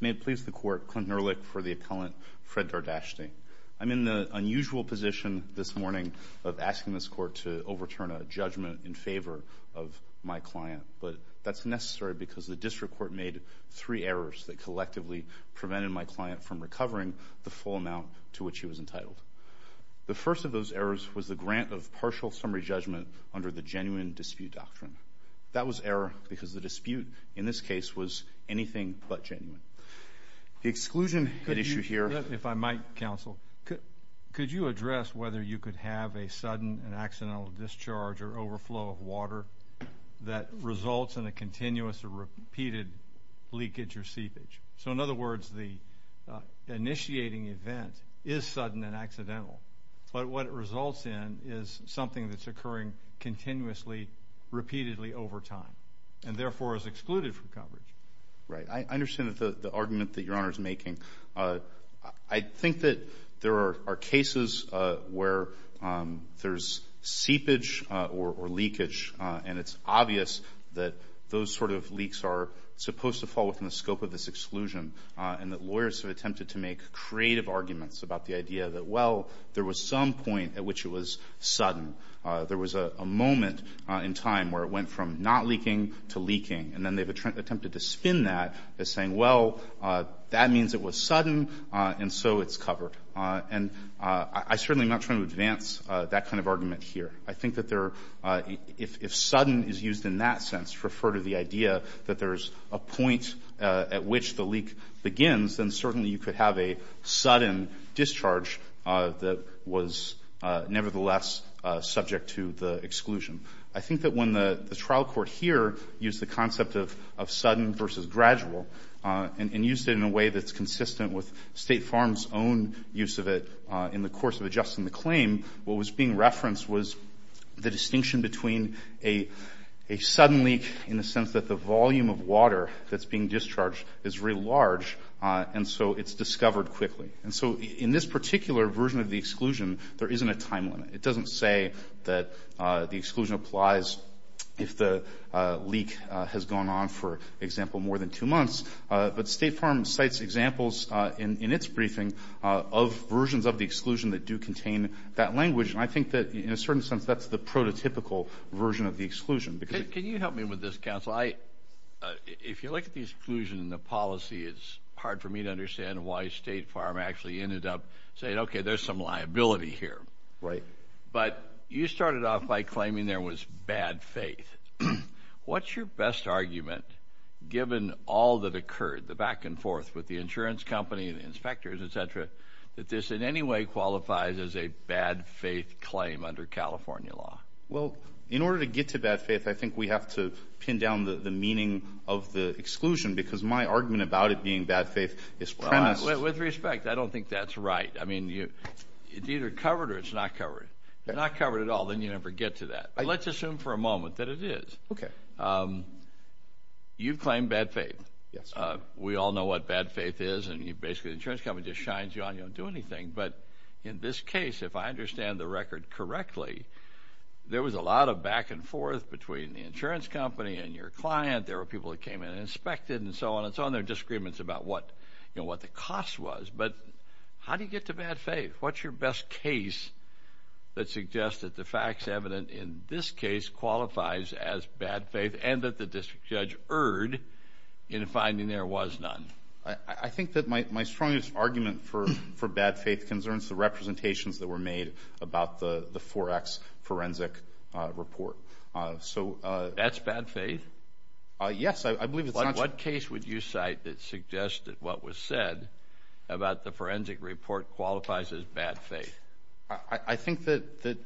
May it please the Court, Clinton Ehrlich for the Appellant Fred Dardashti. I'm in the unusual position this morning of asking this Court to overturn a judgment in favor of my client, but that's necessary because the District Court made three errors that to which he was entitled. The first of those errors was the grant of partial summary judgment under the Genuine Dispute Doctrine. That was error because the dispute in this case was anything but genuine. The exclusion issue here. If I might, Counsel, could you address whether you could have a sudden and accidental discharge or overflow of water that results in a continuous or repeated leakage or seepage? So, in other words, the initiating event is sudden and accidental, but what it results in is something that's occurring continuously repeatedly over time and, therefore, is excluded from coverage. Right. I understand the argument that Your Honor is making. I think that there are cases where there's seepage or leakage and it's obvious that those sort of leaks are supposed to fall within the scope of this exclusion and that lawyers have attempted to make creative arguments about the idea that, well, there was some point at which it was sudden. There was a moment in time where it went from not leaking to leaking, and then they've attempted to spin that as saying, well, that means it was sudden and so it's covered. And I certainly am not trying to advance that kind of argument here. I think that if sudden is used in that sense, to refer to the idea that there's a point at which the leak begins, then certainly you could have a sudden discharge that was nevertheless subject to the exclusion. I think that when the trial court here used the concept of sudden versus gradual and used it in a way that's consistent with State Farm's own use of it in the course of adjusting the claim, what was being referenced was the distinction between a sudden leak in the sense that the volume of water that's being discharged is very large and so it's discovered quickly. And so in this particular version of the exclusion, there isn't a time limit. It doesn't say that the exclusion applies if the leak has gone on, for example, more than two months. But State Farm cites examples in its briefing of versions of the exclusion that do contain that language. And I think that in a certain sense, that's the prototypical version of the exclusion. Can you help me with this, counsel? If you look at the exclusion in the policy, it's hard for me to understand why State Farm actually ended up saying, okay, there's some liability here. But you started off by claiming there was bad faith. What's your best argument, given all that occurred, the back and forth with the insurance company, the inspectors, the attorneys, et cetera, that this in any way qualifies as a bad faith claim under California law? Well, in order to get to bad faith, I think we have to pin down the meaning of the exclusion because my argument about it being bad faith is premised... With respect, I don't think that's right. I mean, it's either covered or it's not covered. If it's not covered at all, then you never get to that. But let's assume for a moment that it is. You've claimed bad faith. We all know what bad faith is and you've basically the insurance company just shines you on, you don't do anything. But in this case, if I understand the record correctly, there was a lot of back and forth between the insurance company and your client. There were people that came in and inspected and so on and so on. There were disagreements about what the cost was. But how do you get to bad faith? What's your best case that suggests that the facts evident in this case qualifies as bad faith and that the district judge erred in finding there was none? I think that my strongest argument for bad faith concerns the representations that were made about the Forex forensic report. That's bad faith? Yes, I believe it's not... What case would you cite that suggests that what was said about the forensic report qualifies as bad faith? I think that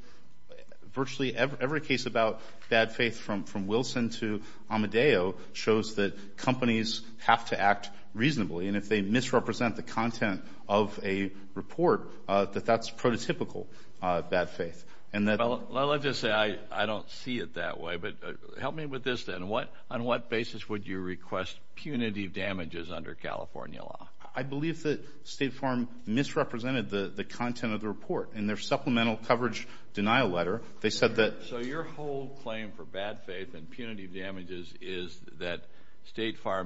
virtually every case about bad faith from Wilson to Amadeo shows that companies have to act reasonably. And if they misrepresent the content of a report, that that's prototypical bad faith. Well, let's just say I don't see it that way. But help me with this then. On what basis would you request punitive damages under California law? I believe that State Farm misrepresented the content of the report. In their supplemental coverage denial letter, they said that...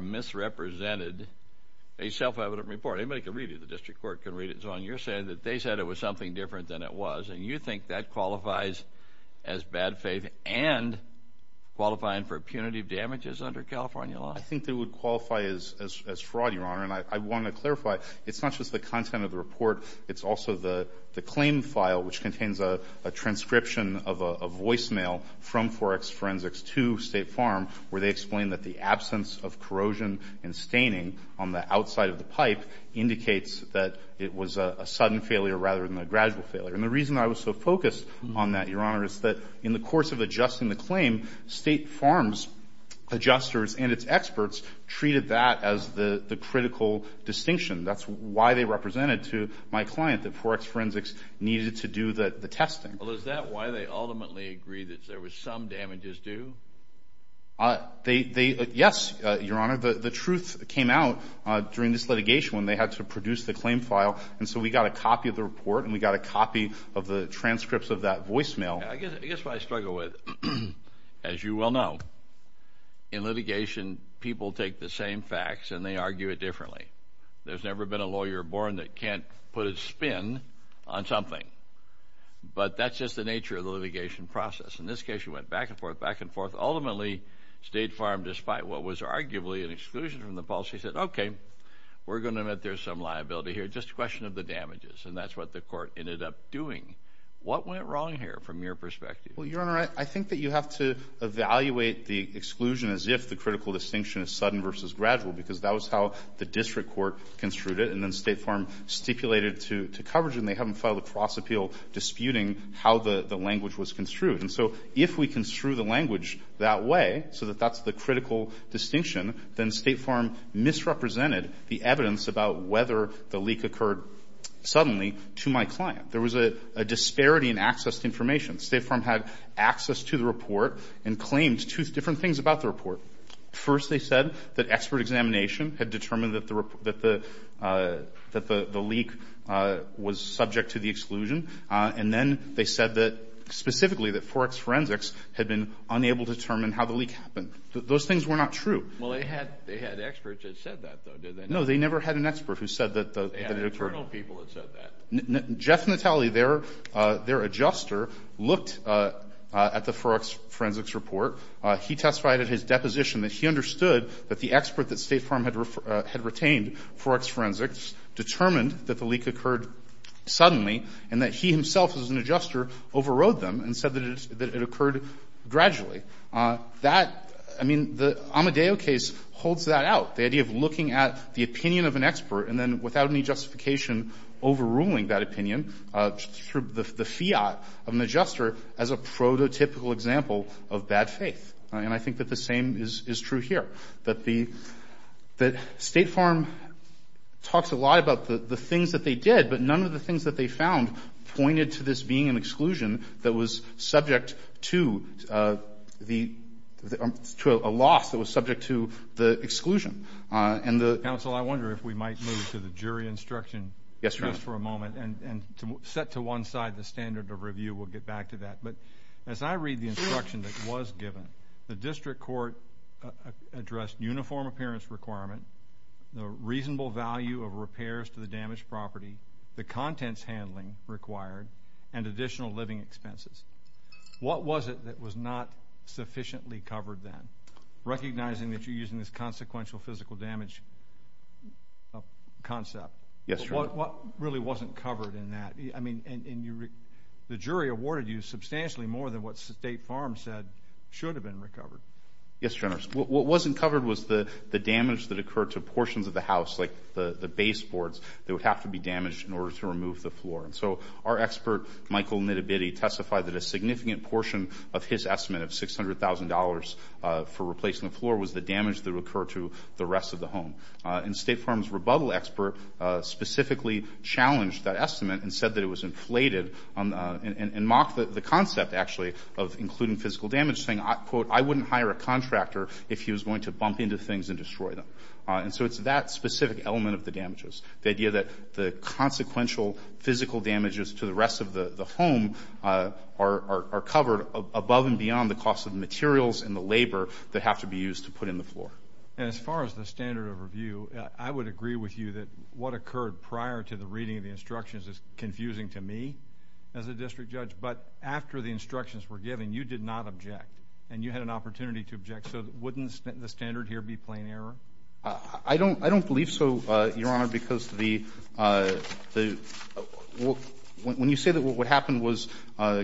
Misrepresented a self-evident report. Anybody can read it. The district court can read it. So on your side, they said it was something different than it was. And you think that qualifies as bad faith and qualifying for punitive damages under California law? I think they would qualify as fraud, Your Honor. And I want to clarify, it's not just the content of the report. It's also the claim file, which contains a transcription of a and staining on the outside of the pipe indicates that it was a sudden failure rather than a gradual failure. And the reason I was so focused on that, Your Honor, is that in the course of adjusting the claim, State Farm's adjusters and its experts treated that as the critical distinction. That's why they represented to my client that Forex Forensics needed to do the testing. Well, is that why they ultimately agreed that there was some damages due? Yes, Your Honor. The truth came out during this litigation when they had to produce the claim file. And so we got a copy of the report, and we got a copy of the transcripts of that voicemail. I guess what I struggle with, as you well know, in litigation, people take the same facts and they argue it differently. There's never been a lawyer born that can't put a spin on something. But that's just the nature of the litigation process. In this case, we went back and forth, back and forth. Ultimately, State Farm, despite what was arguably an exclusion from the policy, said, okay, we're going to admit there's some liability here, just a question of the damages. And that's what the court ended up doing. What went wrong here from your perspective? Well, Your Honor, I think that you have to evaluate the exclusion as if the critical distinction is sudden versus gradual, because that was how the district court construed it, and then State Farm stipulated to coverage, and they haven't filed a cross-appeal disputing how the language was construed. And so if we construe the language that way, so that that's the critical distinction, then State Farm misrepresented the evidence about whether the leak occurred suddenly to my client. There was a disparity in access to information. State Farm had access to the report and claimed two different things about the report. First, they said that expert examination had determined that the leak was subject to the exclusion. And then they said that specifically that Forex Forensics had been unable to determine how the leak happened. Those things were not true. Well, they had experts that said that, though, did they not? No, they never had an expert who said that the leak occurred. They had internal people that said that. Jeff Natale, their adjuster, looked at the Forex Forensics report. He testified at his trial that he had retained Forex Forensics, determined that the leak occurred suddenly, and that he himself as an adjuster overrode them and said that it occurred gradually. That, I mean, the Amadeo case holds that out, the idea of looking at the opinion of an expert and then, without any justification, overruling that opinion through the fiat of an adjuster as a prototypical example of bad faith. And I think that the same is true here, that State Farm talks a lot about the things that they did, but none of the things that they found pointed to this being an exclusion that was subject to a loss that was subject to the exclusion. Counsel, I wonder if we might move to the jury instruction just for a moment and set to one side the standard of review. We'll get back to that. But as I read the instruction that was given, the district court addressed uniform appearance requirement, the reasonable value of repairs to the damaged property, the contents handling required, and additional living expenses. What was it that was not sufficiently covered then, recognizing that you're using Yes, Your Honor. What really wasn't covered in that? I mean, the jury awarded you substantially more than what State Farm said should have been recovered. Yes, Your Honor. What wasn't covered was the damage that occurred to portions of the house, like the baseboards, that would have to be damaged in order to remove the floor. And so our expert, Michael Nittibitti, testified that a significant portion of his estimate of $600,000 for replacing the floor was the damage that occurred to the estimate and said that it was inflated and mocked the concept, actually, of including physical damage, saying, quote, I wouldn't hire a contractor if he was going to bump into things and destroy them. And so it's that specific element of the damages, the idea that the consequential physical damages to the rest of the home are covered above and beyond the cost of the materials and the labor that have to be used to put in the floor. And as far as the standard of review, I would agree with you that what occurred prior to the reading of the instructions is confusing to me as a district judge. But after the instructions were given, you did not object. And you had an opportunity to object. So wouldn't the standard here be plain error? I don't believe so, Your Honor, because when you say that what happened was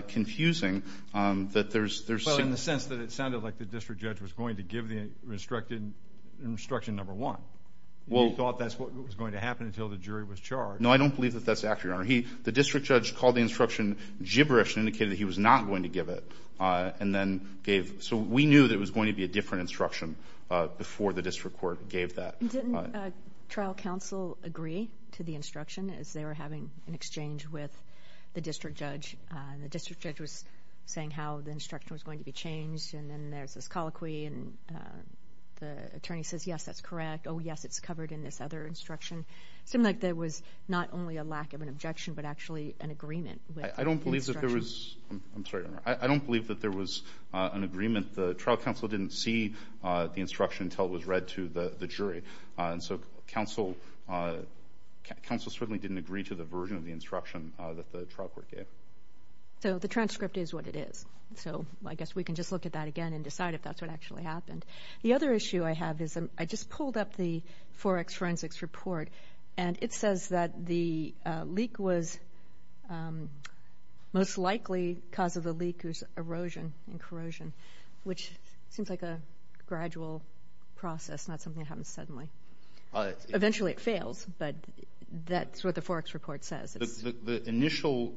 confusing, that there's... Well, in the sense that it sounded like the district judge was going to give the instruction number one. You thought that's what was going to happen until the jury was charged. No, I don't believe that that's accurate, Your Honor. The district judge called the instruction gibberish and indicated that he was not going to give it. So we knew that it was going to be a different instruction before the district court gave that. Didn't trial counsel agree to the instruction as they were having an exchange with the district judge? The district judge was saying how the instruction was going to be changed. And then there's this colloquy. And the attorney says, yes, that's correct. Oh, yes, it's covered in this other instruction. It seemed like there was not only a lack of an objection, but actually an agreement with the instruction. I don't believe that there was... I'm sorry, Your Honor. I don't believe that there was an agreement. The trial counsel didn't see the instruction until it was read to the jury. And so counsel certainly didn't agree to the version of the instruction that the trial court gave. So the transcript is what it is. So I guess we can just look at that again and decide if that's what actually happened. The other issue I have is I just pulled up the Forex Forensics report, and it says that the leak was most likely cause of the leak was erosion and corrosion, which seems like a gradual process, not something that happens suddenly. Eventually it fails, but that's what the Forex report says. The initial...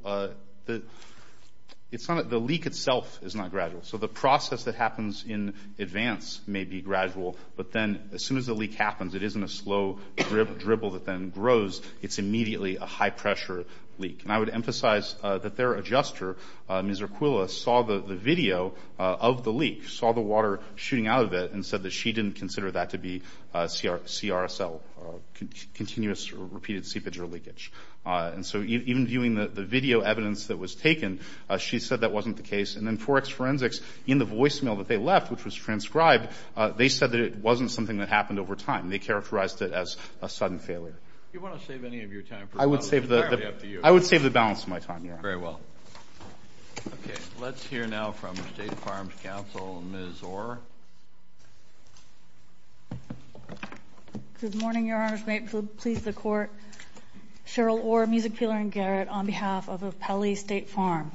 It's not... The leak itself is not gradual. So the process that happens in advance may be gradual, but then as soon as the leak happens, it isn't a slow dribble that then grows. It's immediately a high-pressure leak. And I would emphasize that their adjuster, Ms. Urquilla, saw the video of the leak, saw the water shooting out of it, and said that she didn't consider that to be CRSL, continuous or repeated seepage or leakage. And so even viewing the video evidence that was taken, she said that wasn't the case. And then Forex Forensics, in the voicemail that they left, which was transcribed, they said that it wasn't something that happened over time. They characterized it as a sudden failure. I would save the balance of my time, Your Honor. Very well. Okay. Let's hear now from State Farms Council, Ms. Orr. Good morning, Your Honors. May it please the Court. Cheryl Orr, Music Peeler and Garrett, on behalf of Pele State Farm.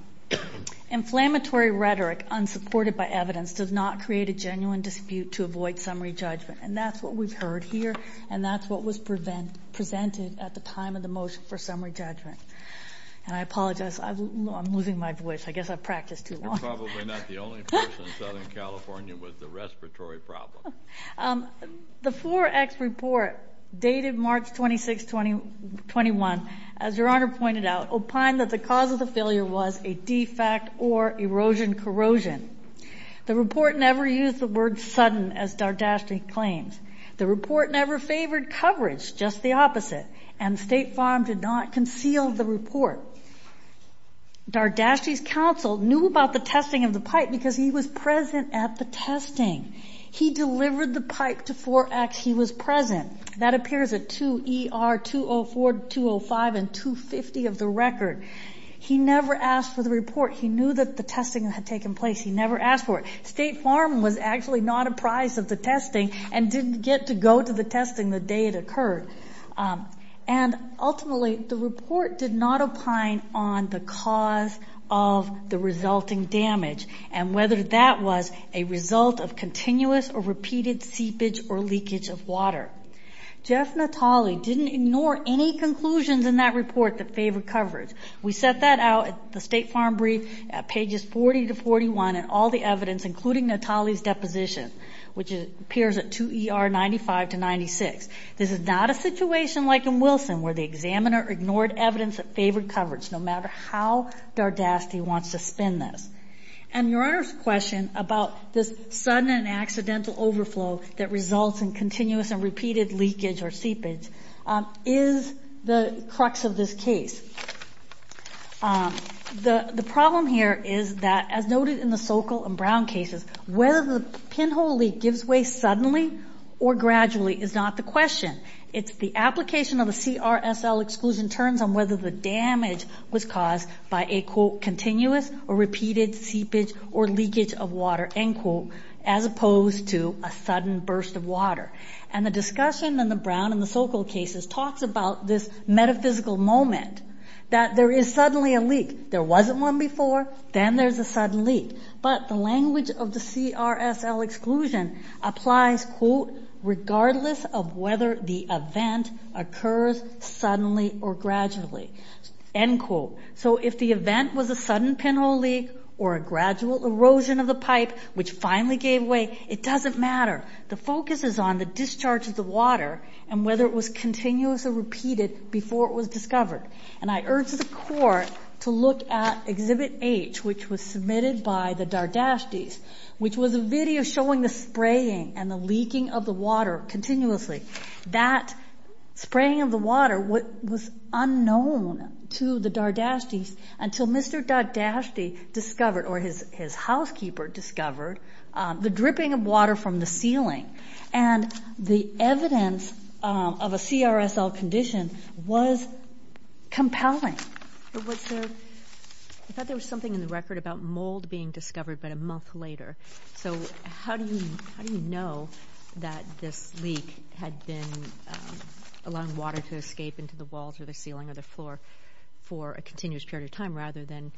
Inflammatory rhetoric, unsupported by evidence, does not create a genuine dispute to avoid summary judgment. And that's what we've heard here, and that's what was presented at the time of the motion for summary judgment. And I apologize. I'm losing my voice. I guess I've practiced too long. You're probably not the only person in Southern California with the respiratory problem. The Forex report, dated March 26, 2021, as Your Honor pointed out, opined that the cause of the failure was a defect or erosion-corrosion. The report never used the word sudden, as Dardashti claims. The report never favored coverage, just the opposite. And State Farm did not conceal the report. Dardashti's counsel knew about the testing of the pipe. He delivered the pipe to Forex. He was present. That appears at 2 ER 204, 205, and 250 of the record. He never asked for the report. He knew that the testing had taken place. He never asked for it. State Farm was actually not apprised of the testing and didn't get to go to the testing the day it occurred. And ultimately, the report did not opine on the cause of the resulting damage and whether that was a result of continuous or repeated seepage or leakage of water. Jeff Natale didn't ignore any conclusions in that report that favored coverage. We set that out at the State Farm brief at pages 40 to 41 in all the evidence, including Natale's deposition, which appears at 2 ER 95 to 96. This is not a situation like in Wilson, where the examiner ignored evidence that favored And Your Honor's question about this sudden and accidental overflow that results in continuous and repeated leakage or seepage is the crux of this case. The problem here is that, as noted in the Sokol and Brown cases, whether the pinhole leak gives way suddenly or gradually is not the question. It's the application of a CRSL exclusion which in turns on whether the damage was caused by a, quote, continuous or repeated seepage or leakage of water, end quote, as opposed to a sudden burst of water. And the discussion in the Brown and the Sokol cases talks about this metaphysical moment, that there is suddenly a leak. There wasn't one before, then there's a sudden leak. But the language of the CRSL exclusion applies, quote, regardless of whether the event occurs suddenly or gradually, end quote. So if the event was a sudden pinhole leak or a gradual erosion of the pipe which finally gave way, it doesn't matter. The focus is on the discharge of the water and whether it was continuous or repeated before it was discovered. And I urge the Court to look at Exhibit H, which was submitted by the Dardashtis, which was a video showing the spraying of the water was unknown to the Dardashtis until Mr. Dardashti discovered or his housekeeper discovered the dripping of water from the ceiling. And the evidence of a CRSL condition was compelling. I thought there was something in the record about mold being discovered about a allowing water to escape into the walls or the ceiling or the floor for a continuous period of time rather than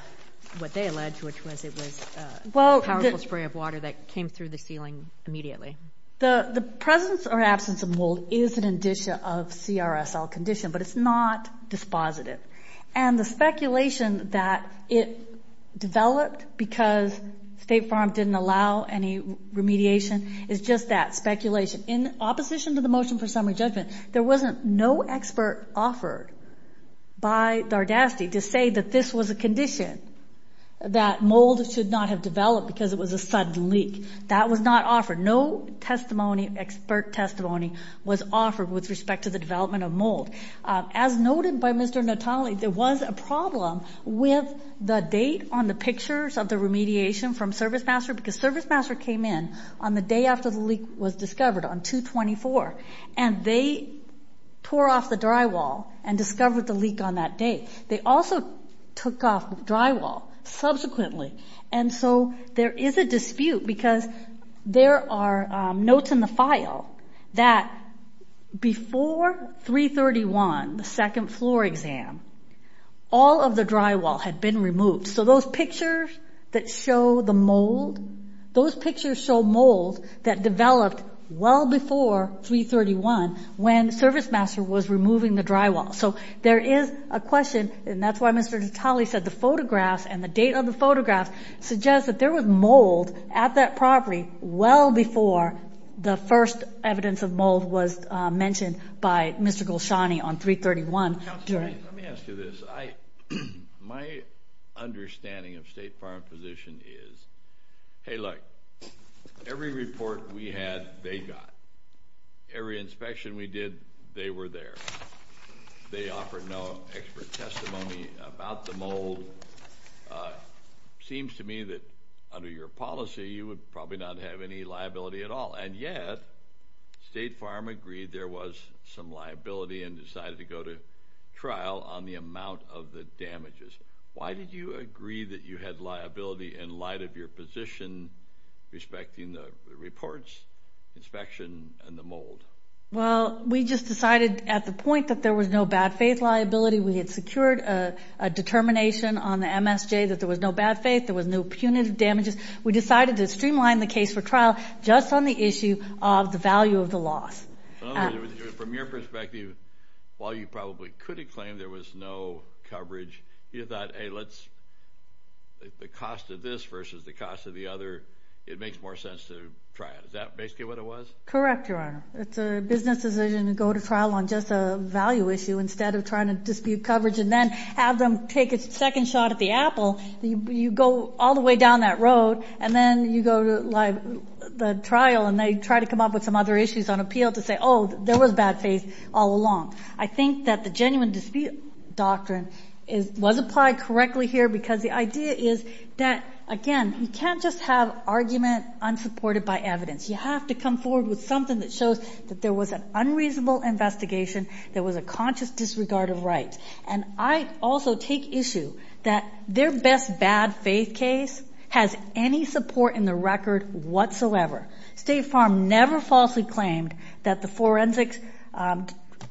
what they allege, which was it was a powerful spray of water that came through the ceiling immediately. The presence or absence of mold is an indicia of CRSL condition, but it's not dispositive. And the speculation that it developed because State Farm didn't allow any remediation is just that, speculation. In opposition to the motion for summary judgment, there wasn't no expert offered by Dardashti to say that this was a condition, that mold should not have developed because it was a sudden leak. That was not offered. No testimony, expert testimony was offered with respect to the development of mold. As noted by Mr. Notale, there was a problem with the date on the pictures of the remediation from ServiceMaster because ServiceMaster came in on the day after the leak was discovered, on 2-24, and they tore off the drywall and discovered the leak on that day. They also took off drywall subsequently. And so there is a dispute because there are notes in the file that before 3-31, the pictures that show the mold, those pictures show mold that developed well before 3-31 when ServiceMaster was removing the drywall. So there is a question, and that's why Mr. Notale said the photographs and the date of the photographs suggest that there was mold at that property well before the first evidence of mold was mentioned by Mr. Golshani on 3-31. Let me ask you this. My understanding of State Farm's position is, hey, look, every report we had, they got. Every inspection we did, they were there. They offered no expert testimony about the mold. Seems to me that under your policy, you would probably not have any liability at all. And yet, State Farm agreed there was some liability and decided to go to trial on the amount of the damages. Why did you agree that you had liability in light of your position respecting the reports, inspection, and the mold? Well, we just decided at the point that there was no bad faith liability, we had secured a determination on the MSJ that there was no bad faith, there was no punitive damages. We decided to streamline the case for trial just on the issue of the value of the loss. So in other words, from your perspective, while you probably could have claimed there was no coverage, you thought, hey, let's, the cost of this versus the cost of the other, it makes more sense to try it. Is that basically what it was? Correct, Your Honor. It's a business decision to go to trial on just a value issue instead of trying to dispute coverage and then have them take a second shot at the apple. You go all the way down that road, and then you go to the other issues on appeal to say, oh, there was bad faith all along. I think that the genuine dispute doctrine was applied correctly here because the idea is that, again, you can't just have argument unsupported by evidence. You have to come forward with something that shows that there was an unreasonable investigation, there was a conscious disregard of rights. And I also take issue that their best bad faith case has any support in the record whatsoever. State Farm never falsely claimed that the forensics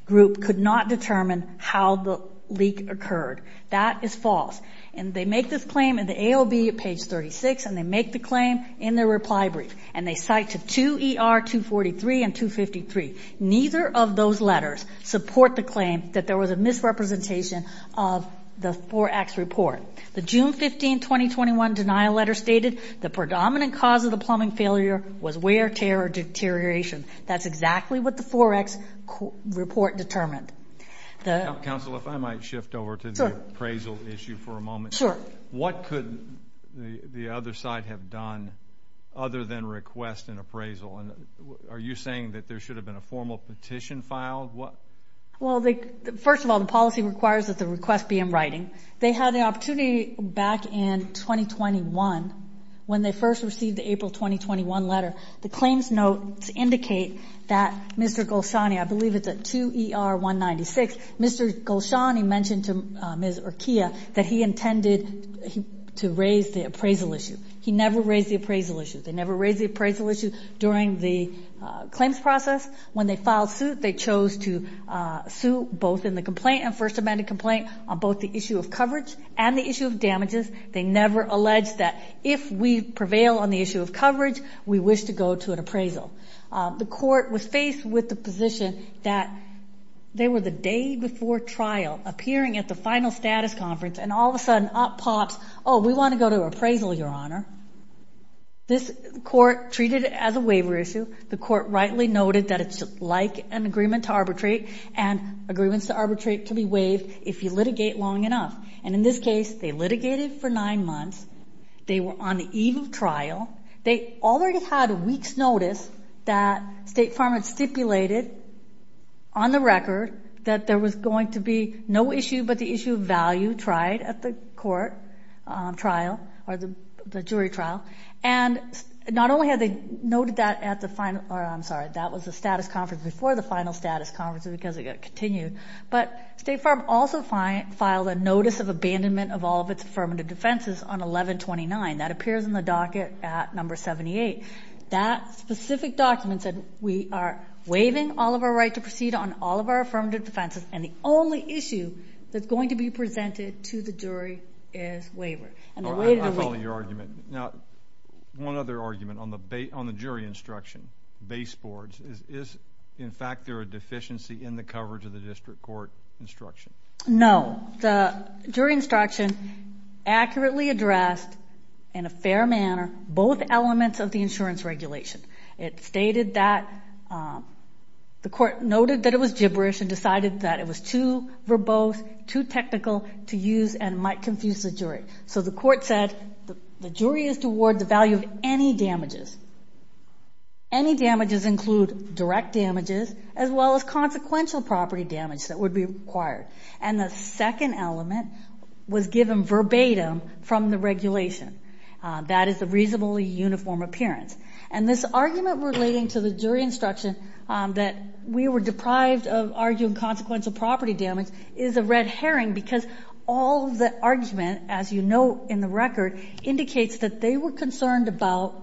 group could not determine how the leak occurred. That is false. And they make this claim in the ALB at page 36, and they make the claim in their reply brief, and they cite to 2 ER 243 and 253. Neither of those letters support the claim that there was a misrepresentation of the 4X report. The June 15, 2021 denial letter stated, the predominant cause of the plumbing failure was wear, tear, or deterioration. That's exactly what the 4X report determined. Counsel, if I might shift over to the appraisal issue for a moment. Sure. What could the other side have done other than request an appraisal? Are you saying that there should have been a formal petition filed? Well, first of all, the policy requires that the request be in writing. They had the opportunity back in 2021, when they first received the April 2021 letter, the claims notes indicate that Mr. Golshani, I believe it's at 2 ER 196, Mr. Golshani mentioned to Ms. Urquia that he intended to raise the appraisal issue. He never raised the appraisal issue. They never raised the appraisal issue during the claims process. When they filed suit, they chose to sue both in the complaint, and first amended complaint on both the issue of coverage and the issue of damages. They never alleged that if we prevail on the issue of coverage, we wish to go to an appraisal. The court was faced with the position that they were the day before trial, appearing at the final status conference, and all of a sudden, up pops, oh, we want to go to appraisal, your honor. This court treated it as a waiver issue. The court rightly noted that it's like an agreement to arbitrate, and agreements to arbitrate can be waived if you litigate long enough. And in this case, they litigated for nine months. They were on the eve of trial. They already had a week's notice that State Farm had stipulated on the record that there was going to be no issue, but the issue of value tried at the court trial or the jury trial. And not only had they noted that at the final, or I'm sorry, that was the status conference before the final status conference because it continued, but State Farm also filed a notice of abandonment of all of its affirmative defenses on 1129. That appears in the docket at number 78. That specific document said we are waiving all of our right to proceed on all of our affirmative defenses, and the only issue that's going to be presented to the jury is waiver. I follow your argument. Now, one other argument on the jury instruction, baseboards, is in fact there a deficiency in the coverage of the district court instruction? No. The jury instruction accurately addressed in a fair manner both elements of the insurance regulation. It stated that the court noted that it was gibberish and decided that it was too verbose, too technical to use and might confuse the jury. So the court said the jury is to award the value of any damages. Any damages include direct damages as well as consequential property damage that would be required. And the second element was given verbatim from the regulation. That is the reasonably uniform appearance. And this argument relating to the jury instruction that we were deprived of arguing consequential property damage is a red herring because all of the argument, as you note in the record, indicates that they were concerned about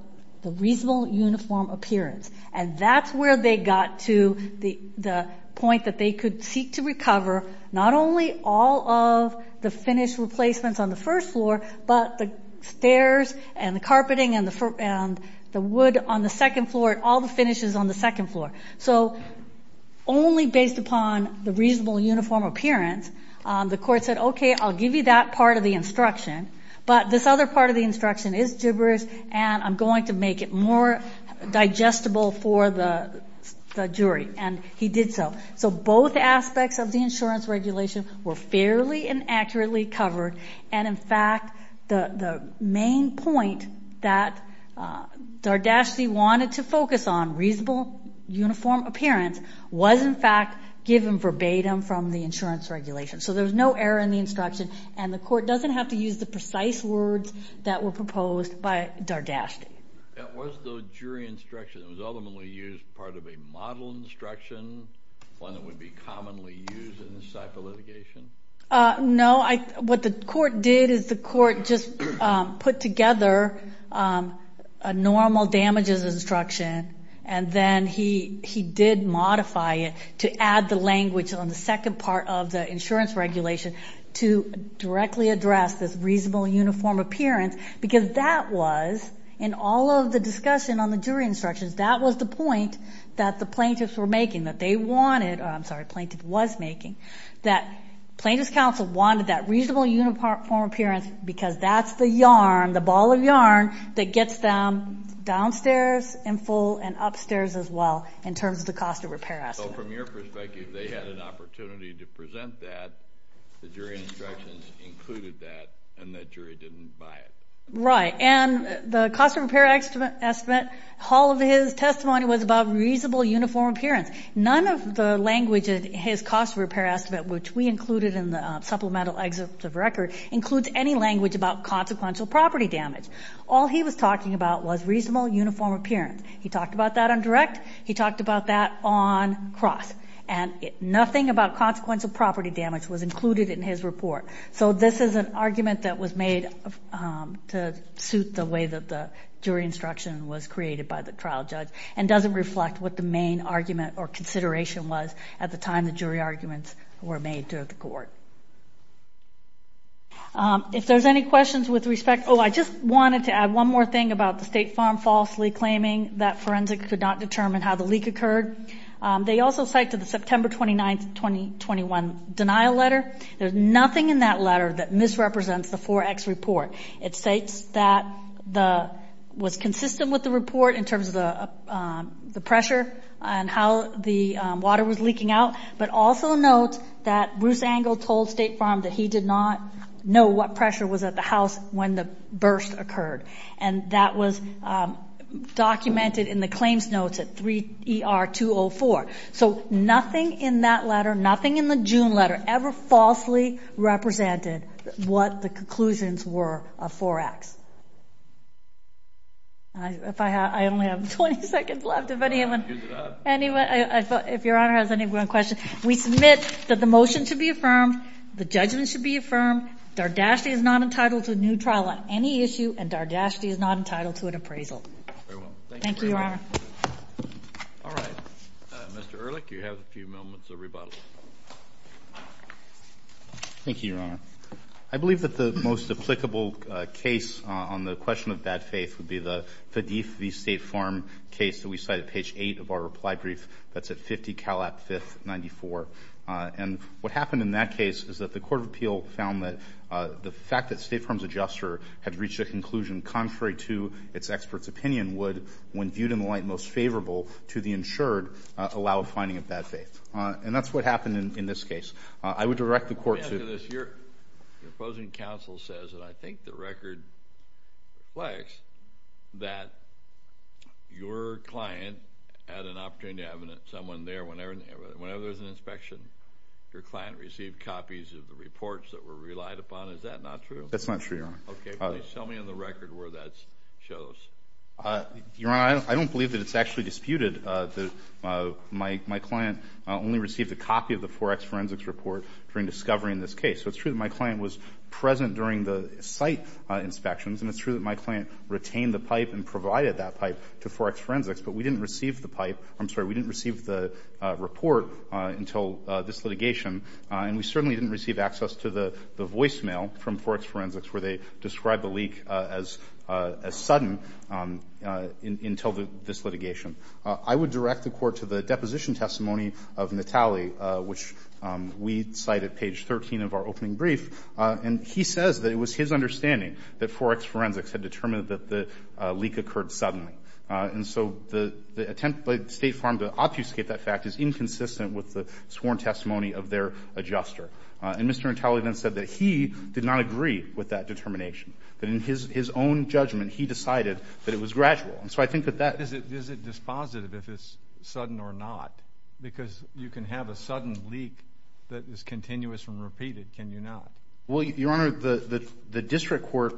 the reasonable uniform appearance. And that's where they got to the point that they could seek to recover not only all of the finished replacements on the first floor but the stairs and the carpeting and the wood on the second floor and all the finishes on the second floor. So only based upon the reasonable uniform appearance, the court said, okay, I'll give you that part of the instruction, but this other part of the instruction is gibberish and I'm going to make it more digestible for the jury. And he did so. So both aspects of the insurance regulation were fairly and accurately covered. And, in fact, the main point that Dardashti wanted to focus on, reasonable uniform appearance, was, in fact, given verbatim from the insurance regulation. So there was no error in the instruction, and the court doesn't have to use the precise words that were proposed by Dardashti. Was the jury instruction that was ultimately used part of a model instruction, one that would be commonly used in this type of litigation? No. What the court did is the court just put together a normal damages instruction and then he did modify it to add the language on the second part of the insurance regulation to directly address this reasonable uniform appearance because that was, in all of the discussion on the jury instructions, that was the point that the plaintiffs were making, that they wanted, I'm sorry, the plaintiff was making, that plaintiff's counsel wanted that reasonable uniform appearance because that's the yarn, the ball of yarn that gets them downstairs in full and upstairs as well in terms of the cost of repair estimate. So from your perspective, they had an opportunity to present that, the jury instructions included that, and the jury didn't buy it. Right. And the cost of repair estimate, all of his testimony was about reasonable uniform appearance. None of the language in his cost of repair estimate, which we included in the supplemental excerpt of record, includes any language about consequential property damage. All he was talking about was reasonable uniform appearance. He talked about that on direct. He talked about that on cross. And nothing about consequential property damage was included in his report. So this is an argument that was made to suit the way that the jury instruction was created by the trial judge and doesn't reflect what the main argument or consideration was at the time the jury arguments were made to the court. If there's any questions with respect, oh, I just wanted to add one more thing about the State Farm falsely claiming that forensics could not determine how the leak occurred. They also cite to the September 29th, 2021, denial letter. There's nothing in that letter that misrepresents the 4X report. It states that it was consistent with the report in terms of the pressure and how the water was leaking out, but also notes that Bruce Angle told State Farm that he did not know what pressure was at the house when the burst occurred. And that was documented in the claims notes at 3ER204. So nothing in that letter, nothing in the June letter, ever falsely represented what the conclusions were of 4X. If I have, I only have 20 seconds left. If anyone, if your honor has any questions, we submit that the motion should be affirmed. The judgment should be affirmed. Dardashti is not entitled to a new trial on any issue, and Dardashti is not entitled to an appraisal. Thank you, Your Honor. All right. Mr. Ehrlich, you have a few moments of rebuttal. Thank you, Your Honor. I believe that the most applicable case on the question of bad faith would be the Fadif v. State Farm case that we cite at page 8 of our reply brief. That's at 50 Calat 5th, 94. And what happened in that case is that the court of appeal found that the fact that State Farm's adjuster had reached a conclusion contrary to its expert's opinion would, when viewed in the light most favorable to the insured, allow a finding of bad faith. And that's what happened in this case. I would direct the court to the opposing counsel says, and I think the record reflects, that your client had an opportunity to have someone there whenever there was an inspection. Your client received copies of the reports that were relied upon. Is that not true? That's not true, Your Honor. Okay. Please tell me on the record where that shows. Your Honor, I don't believe that it's actually disputed. My client only received a copy of the Forex forensics report during discovery in this case. So it's true that my client was present during the site inspections, and it's true that my client retained the pipe and provided that pipe to Forex forensics, but we didn't receive the pipe. I'm sorry. We didn't receive the report until this litigation, and we certainly didn't receive access to the voicemail from Forex forensics where they described the leak as sudden until this litigation. I would direct the court to the deposition testimony of Natale, which we cite at page 13 of our opening brief. And he says that it was his understanding that Forex forensics had determined that the leak occurred suddenly. And so the attempt by State Farm to obfuscate that fact is inconsistent with the sworn testimony of their adjuster. And Mr. Natale then said that he did not agree with that determination, that in his own judgment he decided that it was gradual. Is it dispositive if it's sudden or not? Because you can have a sudden leak that is continuous and repeated, can you not? Well, Your Honor, the district court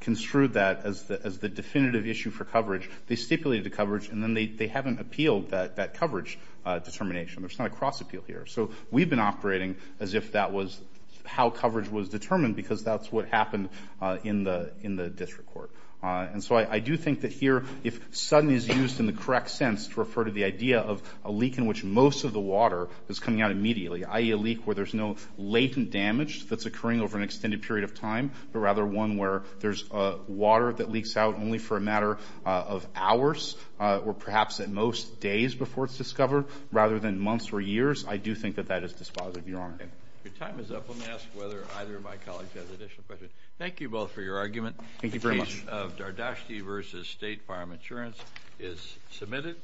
construed that as the definitive issue for coverage. They stipulated the coverage, and then they haven't appealed that coverage determination. There's not a cross-appeal here. So we've been operating as if that was how coverage was determined because that's what happened in the district court. And so I do think that here if sudden is used in the correct sense to refer to the idea of a leak in which most of the water is coming out immediately, i.e. a leak where there's no latent damage that's occurring over an extended period of time, but rather one where there's water that leaks out only for a matter of hours or perhaps at most days before it's discovered, rather than months or years, I do think that that is dispositive, Your Honor. Your time is up. Let me ask whether either of my colleagues has additional questions. Thank you both for your argument. Thank you very much. The case of Dardashti v. State Farm Insurance is submitted.